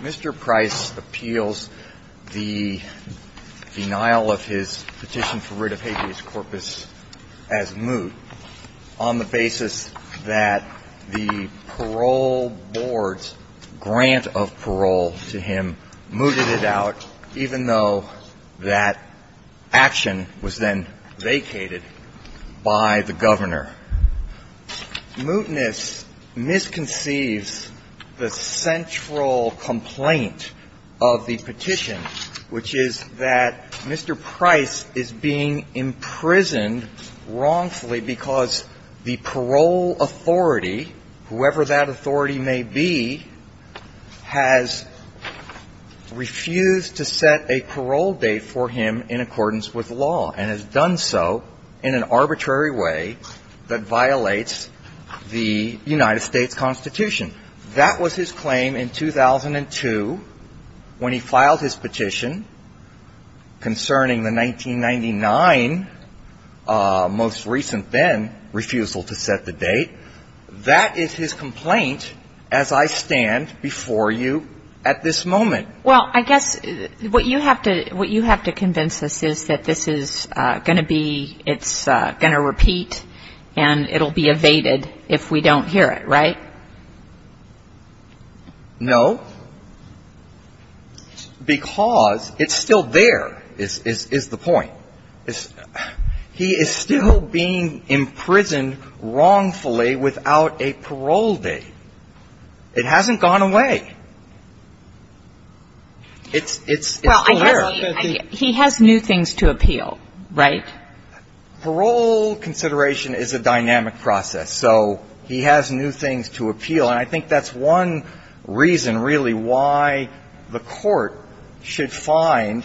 Mr. Price appeals the denial of his petition for rid of habeas corpus as moot on the basis that the parole board says that it is not in the interest of the court to do so, and that the parole board is not in the interest of the court to do so. The parole board's grant of parole to him mooted it out, even though that action was then vacated by the governor. And therefore, mootness misconceives the central complaint of the petition, which is that Mr. Price is being imprisoned wrongfully because the parole authority, whoever that authority may be, has refused to set a parole date for him in accordance with law and has done so in an arbitrary way that violates the United States Constitution. That was his claim in 2002 when he filed his petition concerning the 1999, most recent then, refusal to set the date. That is his complaint as I stand before you at this moment. Well, I guess what you have to convince us is that this is going to be, it's going to repeat, and it will be evaded if we don't hear it, right? No, because it's still there is the point. He is still being imprisoned wrongfully without a parole date. It hasn't gone away. It's still there. He has new things to appeal, right? Parole consideration is a dynamic process. So he has new things to appeal. And I think that's one reason, really, why the Court should find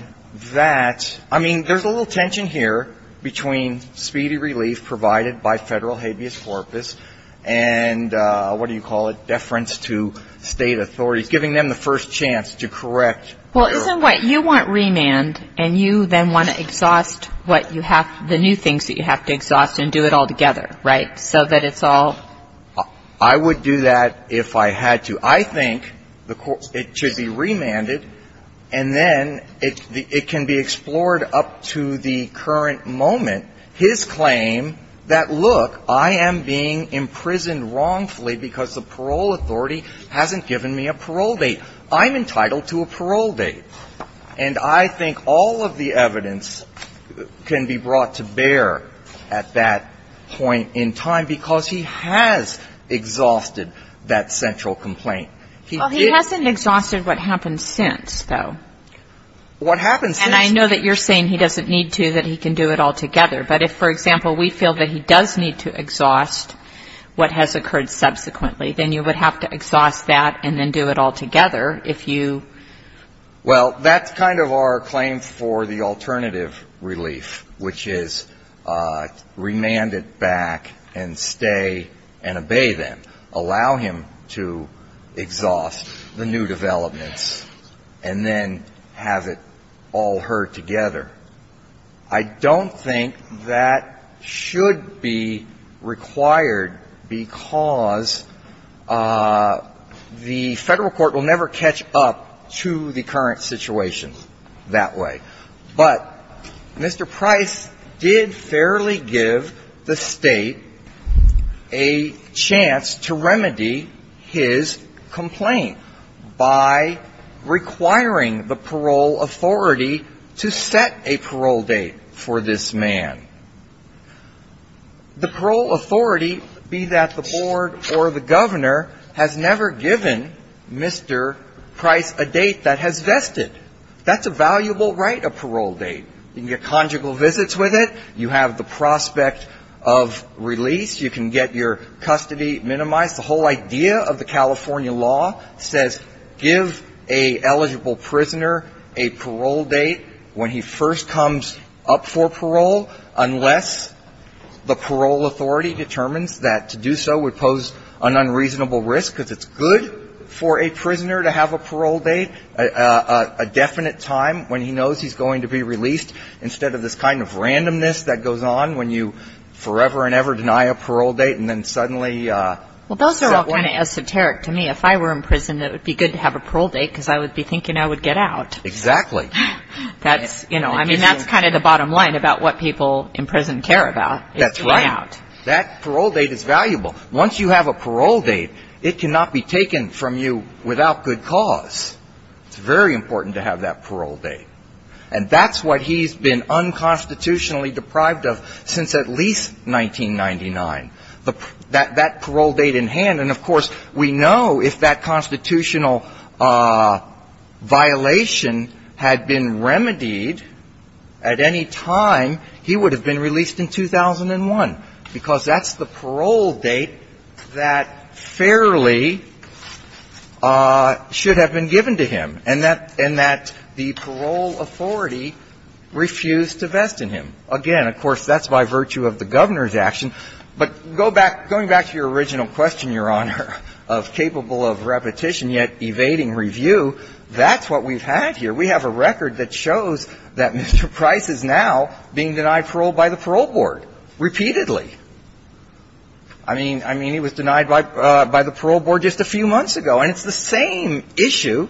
that, I mean, there's a little tension here between speedy relief provided by Federal habeas corpus and what is giving them the first chance to correct. Well, isn't what you want remand and you then want to exhaust what you have, the new things that you have to exhaust and do it all together, right? So that it's all. I would do that if I had to. I think it should be remanded and then it can be explored up to the current moment. His claim that, look, I am being imprisoned wrongfully because the parole authority hasn't given me a parole date. I'm entitled to a parole date. And I think all of the evidence can be brought to bear at that point in time because he has exhausted that central complaint. He did. Well, he hasn't exhausted what happened since, though. What happened since? And I know that you're saying he doesn't need to, that he can do it all together. But if, for example, we feel that he does need to exhaust what has occurred subsequently, then you would have to exhaust that and then do it all together if you. Well, that's kind of our claim for the alternative relief, which is remand it back and stay and obey them, allow him to exhaust the new developments, and then have it all heard together. I don't think that should be required because the Federal court will never catch up to the current situation that way. But Mr. Price did fairly give the State a chance to remedy his complaint by requiring the parole authority to set a parole date for this man. The parole authority, be that the board or the governor, has never given Mr. Price a date that has vested. That's a valuable right, a parole date. You can get conjugal visits with it. You have the prospect of release. You can get your custody minimized. The whole idea of the California law says give an eligible prisoner a parole date when he first comes up for parole unless the parole authority determines that to do so would pose an unreasonable risk, because it's good for a prisoner to have a parole date, a definite time when he knows he's going to be released, instead of this kind of randomness that goes on when you forever and ever deny a parole date and then suddenly. Well, those are all kind of esoteric to me. If I were in prison, it would be good to have a parole date because I would be thinking I would get out. Exactly. That's, you know, I mean, that's kind of the bottom line about what people in prison care about is to run out. That's right. That parole date is valuable. Once you have a parole date, it cannot be taken from you without good cause. It's very important to have that parole date. And that's what he's been unconstitutionally deprived of since at least 1999. That parole date in hand, and of course, we know if that constitutional violation had been remedied at any time, he would have been released in 2001, because that's the parole date that fairly should have been given to him, and that the parole authority refused to vest in him. And again, of course, that's by virtue of the Governor's action. But go back, going back to your original question, Your Honor, of capable of repetition yet evading review, that's what we've had here. We have a record that shows that Mr. Price is now being denied parole by the parole board repeatedly. I mean, I mean, he was denied by the parole board just a few months ago. And it's the same issue.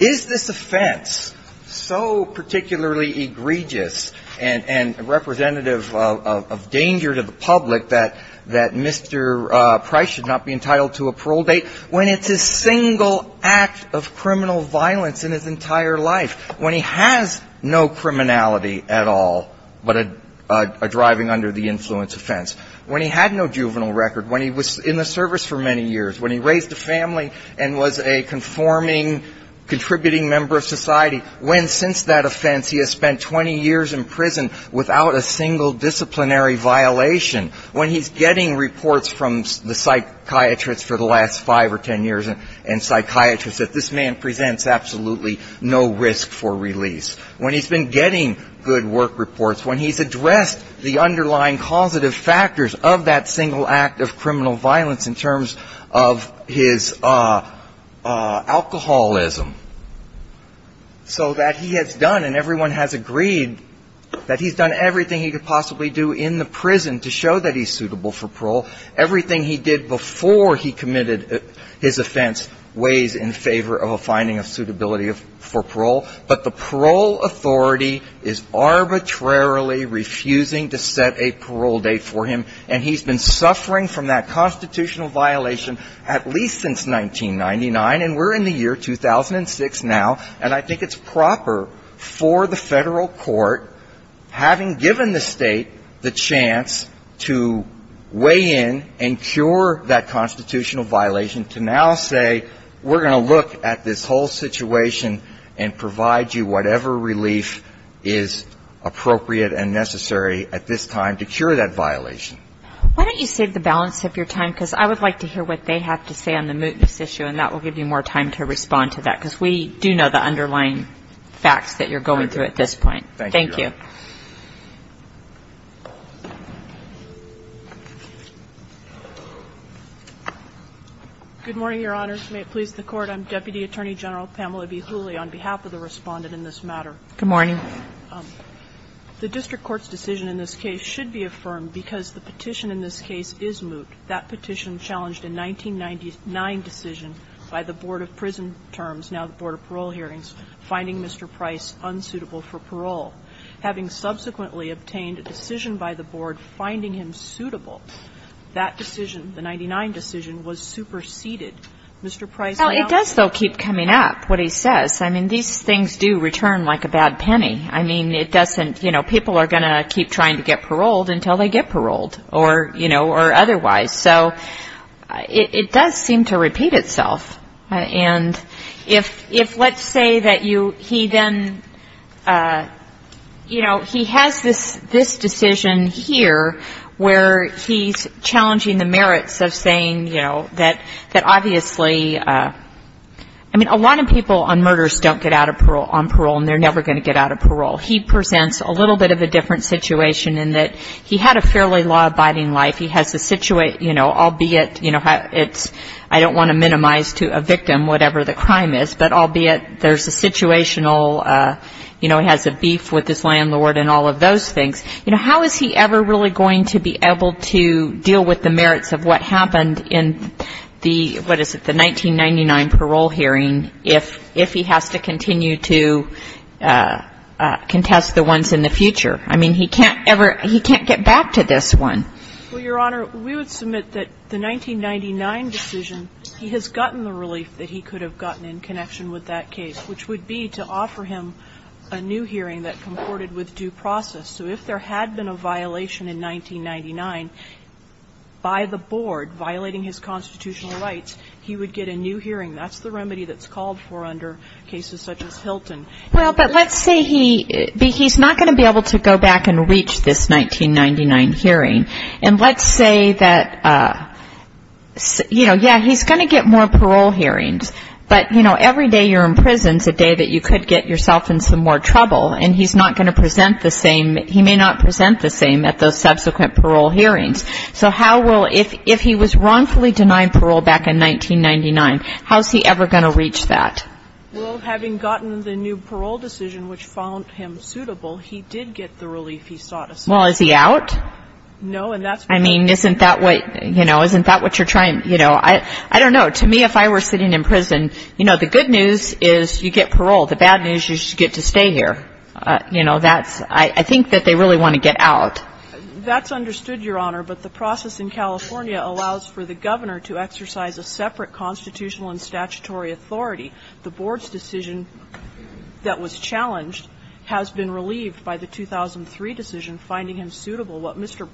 Is this offense so particularly egregious and representative of danger to the public that Mr. Price should not be entitled to a parole date when it's his single act of criminal violence in his entire life, when he has no criminality at all but a driving under the influence offense, when he had no juvenile record, when he was in the service for many years, when he raised a family and was a conforming, contributing member of society, when since that offense he has spent 20 years in prison without a single disciplinary violation, when he's getting reports from the psychiatrists for the last five or ten years and psychiatrists that this man presents absolutely no risk for release, when he's been getting good work reports, when he's addressed the underlying causative factors of that single act of criminal violence in terms of his alcoholism, so that he has done and everyone has agreed that he's done everything he could possibly do in the prison to show that he's suitable for parole. Everything he did before he committed his offense weighs in favor of a finding of suitability for parole. But the parole authority is arbitrarily refusing to set a parole date for him. And he's been suffering from that constitutional violation at least since 1999. And we're in the year 2006 now. And I think it's proper for the federal court, having given the state the chance to weigh in and cure that constitutional violation, to now say we're going to look at this whole situation and provide you whatever relief is appropriate and necessary at this time to cure that violation. Why don't you save the balance of your time? Because I would like to hear what they have to say on the mootness issue, and that will give you more time to respond to that. Because we do know the underlying facts that you're going through at this point. Thank you. Thank you, Your Honor. Good morning, Your Honor. May it please the Court. I'm Deputy Attorney General Pamela B. Hooley. On behalf of the Respondent in this matter. Good morning. The district court's decision in this case should be affirmed because the petition in this case is moot. That petition challenged a 1999 decision by the Board of Prison Terms, now the Board of Parole Hearings, finding Mr. Price unsuitable for parole. Having subsequently obtained a decision by the Board finding him suitable, that decision, the 1999 decision, was superseded. Mr. Price now. Well, it does, though, keep coming up, what he says. I mean, these things do return like a bad penny. I mean, it doesn't, you know, people are going to keep trying to get paroled until they get paroled or, you know, or otherwise. So it does seem to repeat itself. And if let's say that you he then, you know, he has this decision here where he's saying, you know, that obviously, I mean, a lot of people on murders don't get out of parole, on parole, and they're never going to get out of parole. He presents a little bit of a different situation in that he had a fairly law-abiding life. He has a situation, you know, albeit, you know, it's I don't want to minimize to a victim whatever the crime is, but albeit there's a situational, you know, he has a beef with his landlord and all of those things. You know, how is he ever really going to be able to deal with the merits of what happened in the, what is it, the 1999 parole hearing if he has to continue to contest the ones in the future? I mean, he can't ever, he can't get back to this one. Well, Your Honor, we would submit that the 1999 decision, he has gotten the relief that he could have gotten in connection with that case, which would be to offer him a new hearing that comported with due process. So if there had been a violation in 1999 by the board violating his constitutional rights, he would get a new hearing. That's the remedy that's called for under cases such as Hilton. Well, but let's say he, he's not going to be able to go back and reach this 1999 hearing. And let's say that, you know, yeah, he's going to get more parole hearings. But, you know, every day you're in prison is a day that you could get yourself in some more trouble, and he's not going to present the same, he may not present the same at those subsequent parole hearings. So how will, if he was wrongfully denied parole back in 1999, how's he ever going to reach that? Well, having gotten the new parole decision, which found him suitable, he did get the relief he sought. Well, is he out? No, and that's. I mean, isn't that what, you know, isn't that what you're trying, you know, I don't know. To me, if I were sitting in prison, you know, the good news is you get parole. The bad news is you get to stay here. You know, that's, I think that they really want to get out. That's understood, Your Honor. But the process in California allows for the Governor to exercise a separate constitutional and statutory authority. The Board's decision that was challenged has been relieved by the 2003 decision finding him suitable. What Mr.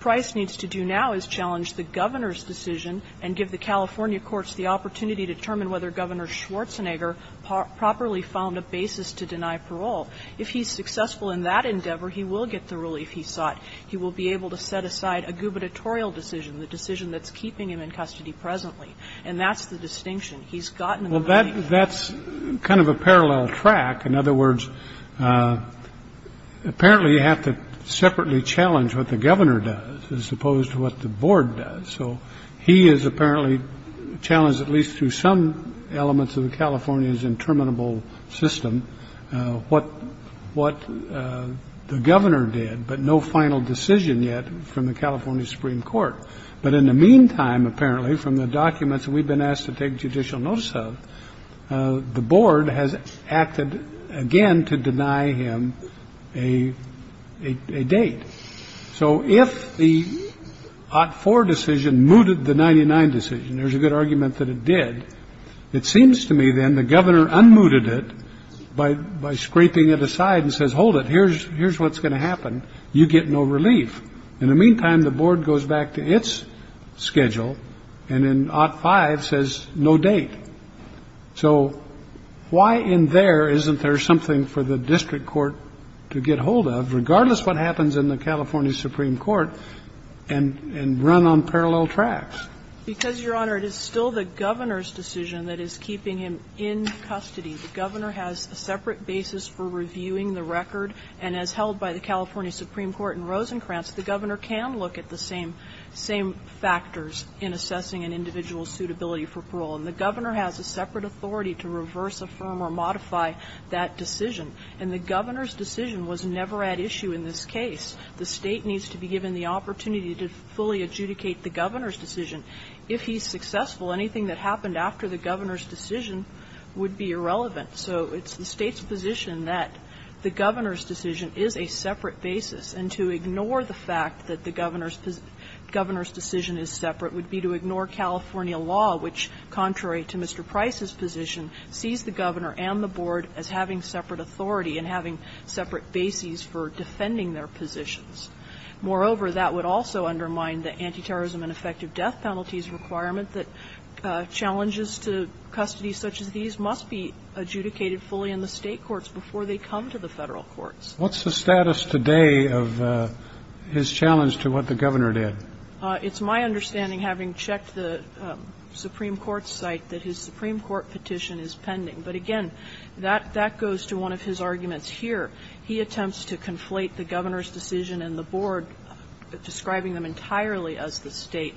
Price needs to do now is challenge the Governor's decision and give the California courts the opportunity to determine whether Governor Schwarzenegger properly found a basis to deny parole. If he's successful in that endeavor, he will get the relief he sought. He will be able to set aside a gubernatorial decision, the decision that's keeping him in custody presently. And that's the distinction. He's gotten the relief. Well, that's kind of a parallel track. In other words, apparently you have to separately challenge what the Governor does as opposed to what the Board does. So he is apparently challenged at least through some elements of California's interminable system what the Governor did, but no final decision yet from the California Supreme Court. But in the meantime, apparently, from the documents we've been asked to take judicial notice of, the Board has acted again to deny him a date. So if the Ott 4 decision mooted the 99 decision, there's a good argument that it did, it seems to me then the Governor unmuted it by scraping it aside and says, hold it, here's what's going to happen. You get no relief. In the meantime, the Board goes back to its schedule and in Ott 5 says no date. So why in there isn't there something for the district court to get hold of, regardless what happens in the California Supreme Court, and run on parallel tracks? Because, Your Honor, it is still the Governor's decision that is keeping him in custody. The Governor has a separate basis for reviewing the record, and as held by the California Supreme Court in Rosencrantz, the Governor can look at the same factors in assessing an individual's suitability for parole. And the Governor has a separate authority to reverse, affirm, or modify that decision. And the Governor's decision was never at issue in this case. The State needs to be given the opportunity to fully adjudicate the Governor's decision. If he's successful, anything that happened after the Governor's decision would be irrelevant. So it's the State's position that the Governor's decision is a separate basis, and to ignore the fact that the Governor's decision is separate would be to ignore California law, which, contrary to Mr. Price's position, sees the Governor and the Board as having separate authority and having separate bases for defending their positions. Moreover, that would also undermine the anti-terrorism and effective death penalties requirement that challenges to custody such as these must be adjudicated fully in the State courts before they come to the Federal courts. What's the status today of his challenge to what the Governor did? It's my understanding, having checked the Supreme Court's site, that his Supreme Court petition is pending. But again, that goes to one of his arguments here. He attempts to conflate the Governor's decision and the Board, describing them entirely as the State,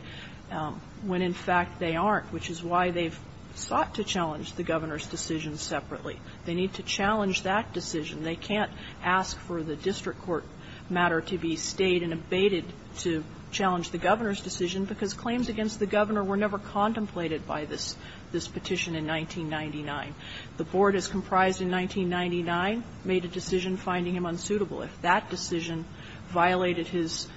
when in fact they aren't, which is why they've sought to challenge the Governor's decision separately. They need to challenge that decision. They can't ask for the district court matter to be stayed and abated to challenge the Governor's decision because claims against the Governor were never contemplated by this petition in 1999. The Board, as comprised in 1999, made a decision finding him unsuitable. If that decision violated his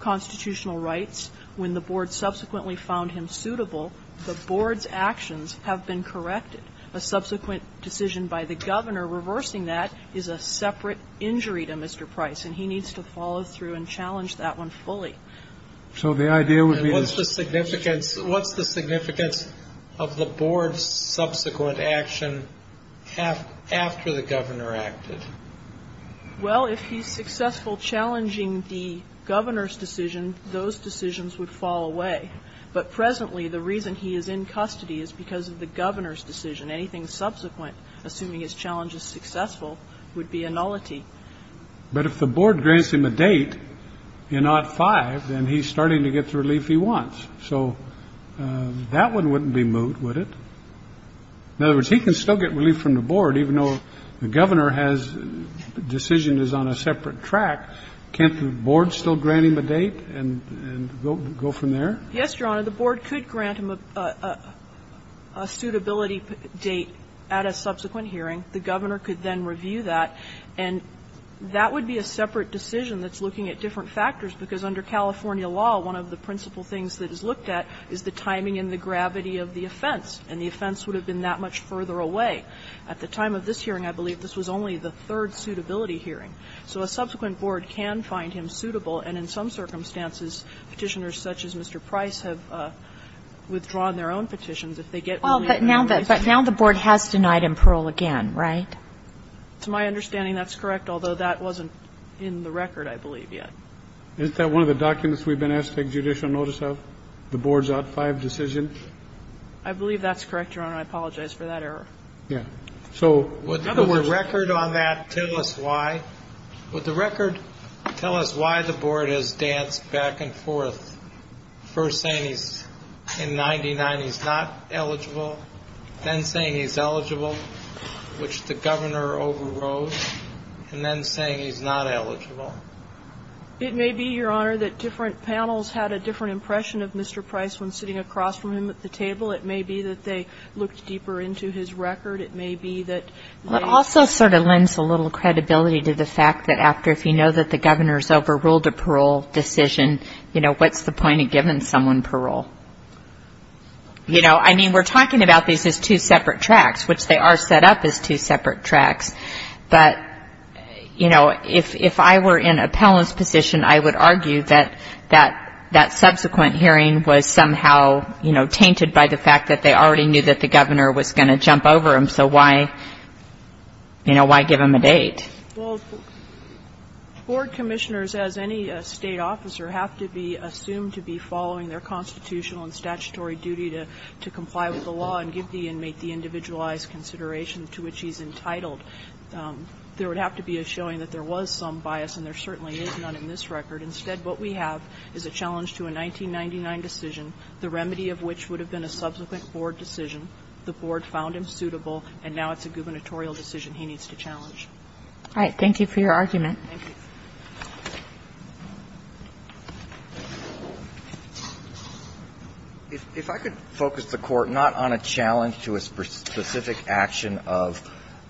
constitutional rights, when the Board subsequently found him suitable, the Board's actions have been corrected. A subsequent decision by the Governor reversing that is a separate injury to Mr. Price, and he needs to follow through and challenge that one fully. So the idea would be to ---- And what's the significance of the Board's subsequent action after the Governor acted? Well, if he's successful challenging the Governor's decision, those decisions would fall away. But presently the reason he is in custody is because of the Governor's decision. Anything subsequent, assuming his challenge is successful, would be a nullity. But if the Board grants him a date, and not five, then he's starting to get the relief he wants. So that one wouldn't be moot, would it? In other words, he can still get relief from the Board, even though the Governor's decision is on a separate track. Can't the Board still grant him a date and go from there? Yes, Your Honor. The Board could grant him a suitability date at a subsequent hearing. The Governor could then review that, and that would be a separate decision that's looking at different factors, because under California law, one of the principal things that is looked at is the timing and the gravity of the offense, and the offense would have been that much further away. At the time of this hearing, I believe this was only the third suitability hearing. So a subsequent Board can find him suitable, and in some circumstances, Petitioners such as Mr. Price have withdrawn their own petitions. If they get ---- But now the Board has denied him parole again, right? To my understanding, that's correct, although that wasn't in the record, I believe, yet. Isn't that one of the documents we've been asked to take judicial notice of, the Board's out-of-five decision? I believe that's correct, Your Honor. I apologize for that error. Yeah. So in other words ---- Would the record on that tell us why? Would the record tell us why the Board has danced back and forth, first saying he's in 99, he's not eligible, then saying he's eligible, which the Governor overrode, and then saying he's not eligible? It may be, Your Honor, that different panels had a different impression of Mr. Price when sitting across from him at the table. It may be that they looked deeper into his record. It may be that ---- It also sort of lends a little credibility to the fact that after, if you know that the Governor's overruled a parole decision, you know, what's the point of giving someone parole? You know, I mean, we're talking about these as two separate tracks, which they are set up as two separate tracks. But, you know, if I were in a panelist position, I would argue that that subsequent hearing was somehow, you know, tainted by the fact that they already knew that the Governor was going to jump over him, so why, you know, why give him a date? Well, board commissioners, as any State officer, have to be assumed to be following their constitutional and statutory duty to comply with the law and give the inmate the individualized consideration to which he's entitled. There would have to be a showing that there was some bias, and there certainly is none in this record. Instead, what we have is a challenge to a 1999 decision, the remedy of which would have been a subsequent board decision. The board found him suitable, and now it's a gubernatorial decision he needs to challenge. All right. Thank you for your argument. Thank you. If I could focus the Court not on a challenge to a specific action of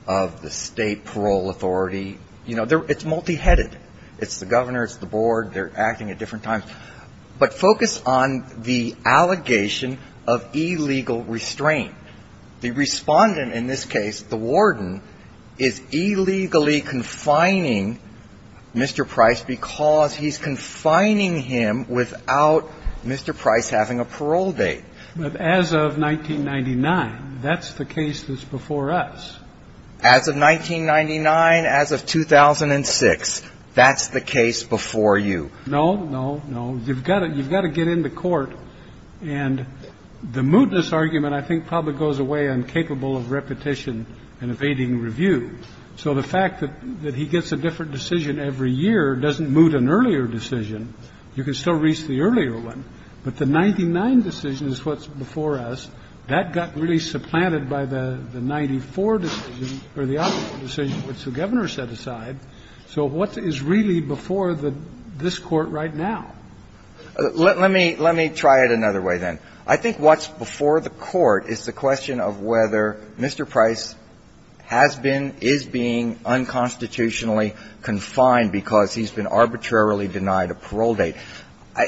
the State parole authority. You know, it's multi-headed. It's the Governor, it's the board. They're acting at different times. But focus on the allegation of illegal restraint. The respondent in this case, the warden, is illegally confining Mr. Price because he's confining him without Mr. Price having a parole date. But as of 1999, that's the case that's before us. As of 1999, as of 2006, that's the case before you. No, no, no. You've got to get into court. And the mootness argument, I think, probably goes away, I'm capable of repetition and evading review. So the fact that he gets a different decision every year doesn't moot an earlier decision. You can still reach the earlier one. But the 99 decision is what's before us. That got really supplanted by the 94 decision or the other decision, which the Governor set aside. So what is really before this Court right now? Let me try it another way, then. I think what's before the Court is the question of whether Mr. Price has been, is being unconstitutionally confined because he's been arbitrarily denied a parole date.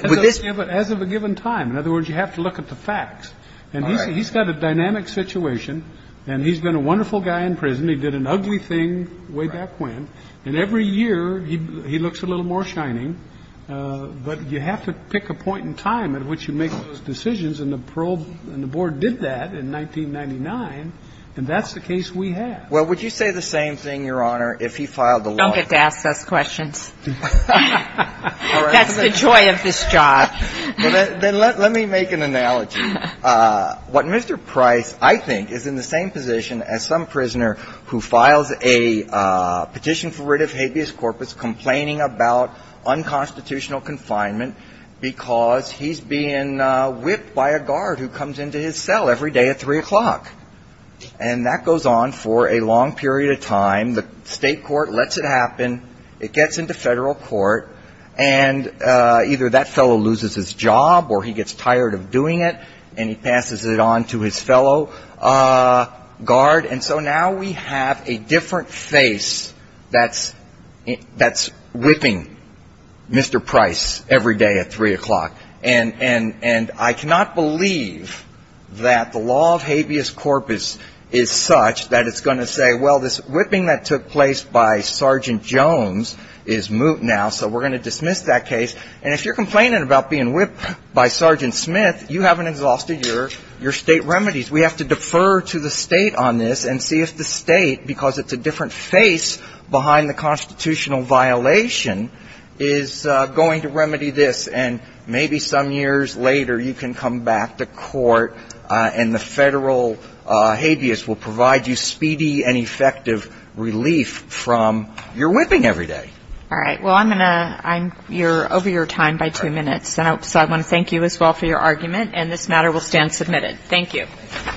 With this ---- As of a given time. In other words, you have to look at the facts. And he's got a dynamic situation. And he's been a wonderful guy in prison. He did an ugly thing way back when. And every year he looks a little more shining. But you have to pick a point in time at which you make those decisions. And the parole ---- and the Board did that in 1999. And that's the case we have. Well, would you say the same thing, Your Honor, if he filed the law? Don't get to ask us questions. That's the joy of this job. Then let me make an analogy. What Mr. Price, I think, is in the same position as some prisoner who files a petition for rid of habeas corpus, complaining about unconstitutional confinement, because he's being whipped by a guard who comes into his cell every day at 3 o'clock. And that goes on for a long period of time. The state court lets it happen. It gets into federal court. And either that fellow loses his job or he gets tired of doing it. And he passes it on to his fellow guard. And so now we have a different face that's whipping Mr. Price every day at 3 o'clock. And I cannot believe that the law of habeas corpus is such that it's going to say, well, this whipping that took place by Sergeant Jones is moot now, so we're going to dismiss that case. And if you're complaining about being whipped by Sergeant Smith, you haven't exhausted your state remedies. We have to defer to the state on this and see if the state, because it's a different face behind the constitutional violation, is going to remedy this. And maybe some years later you can come back to court and the federal habeas will provide you speedy and effective relief from your whipping every day. All right. Well, I'm going to ‑‑ you're over your time by two minutes. So I want to thank you as well for your argument. And this matter will stand submitted. Thank you.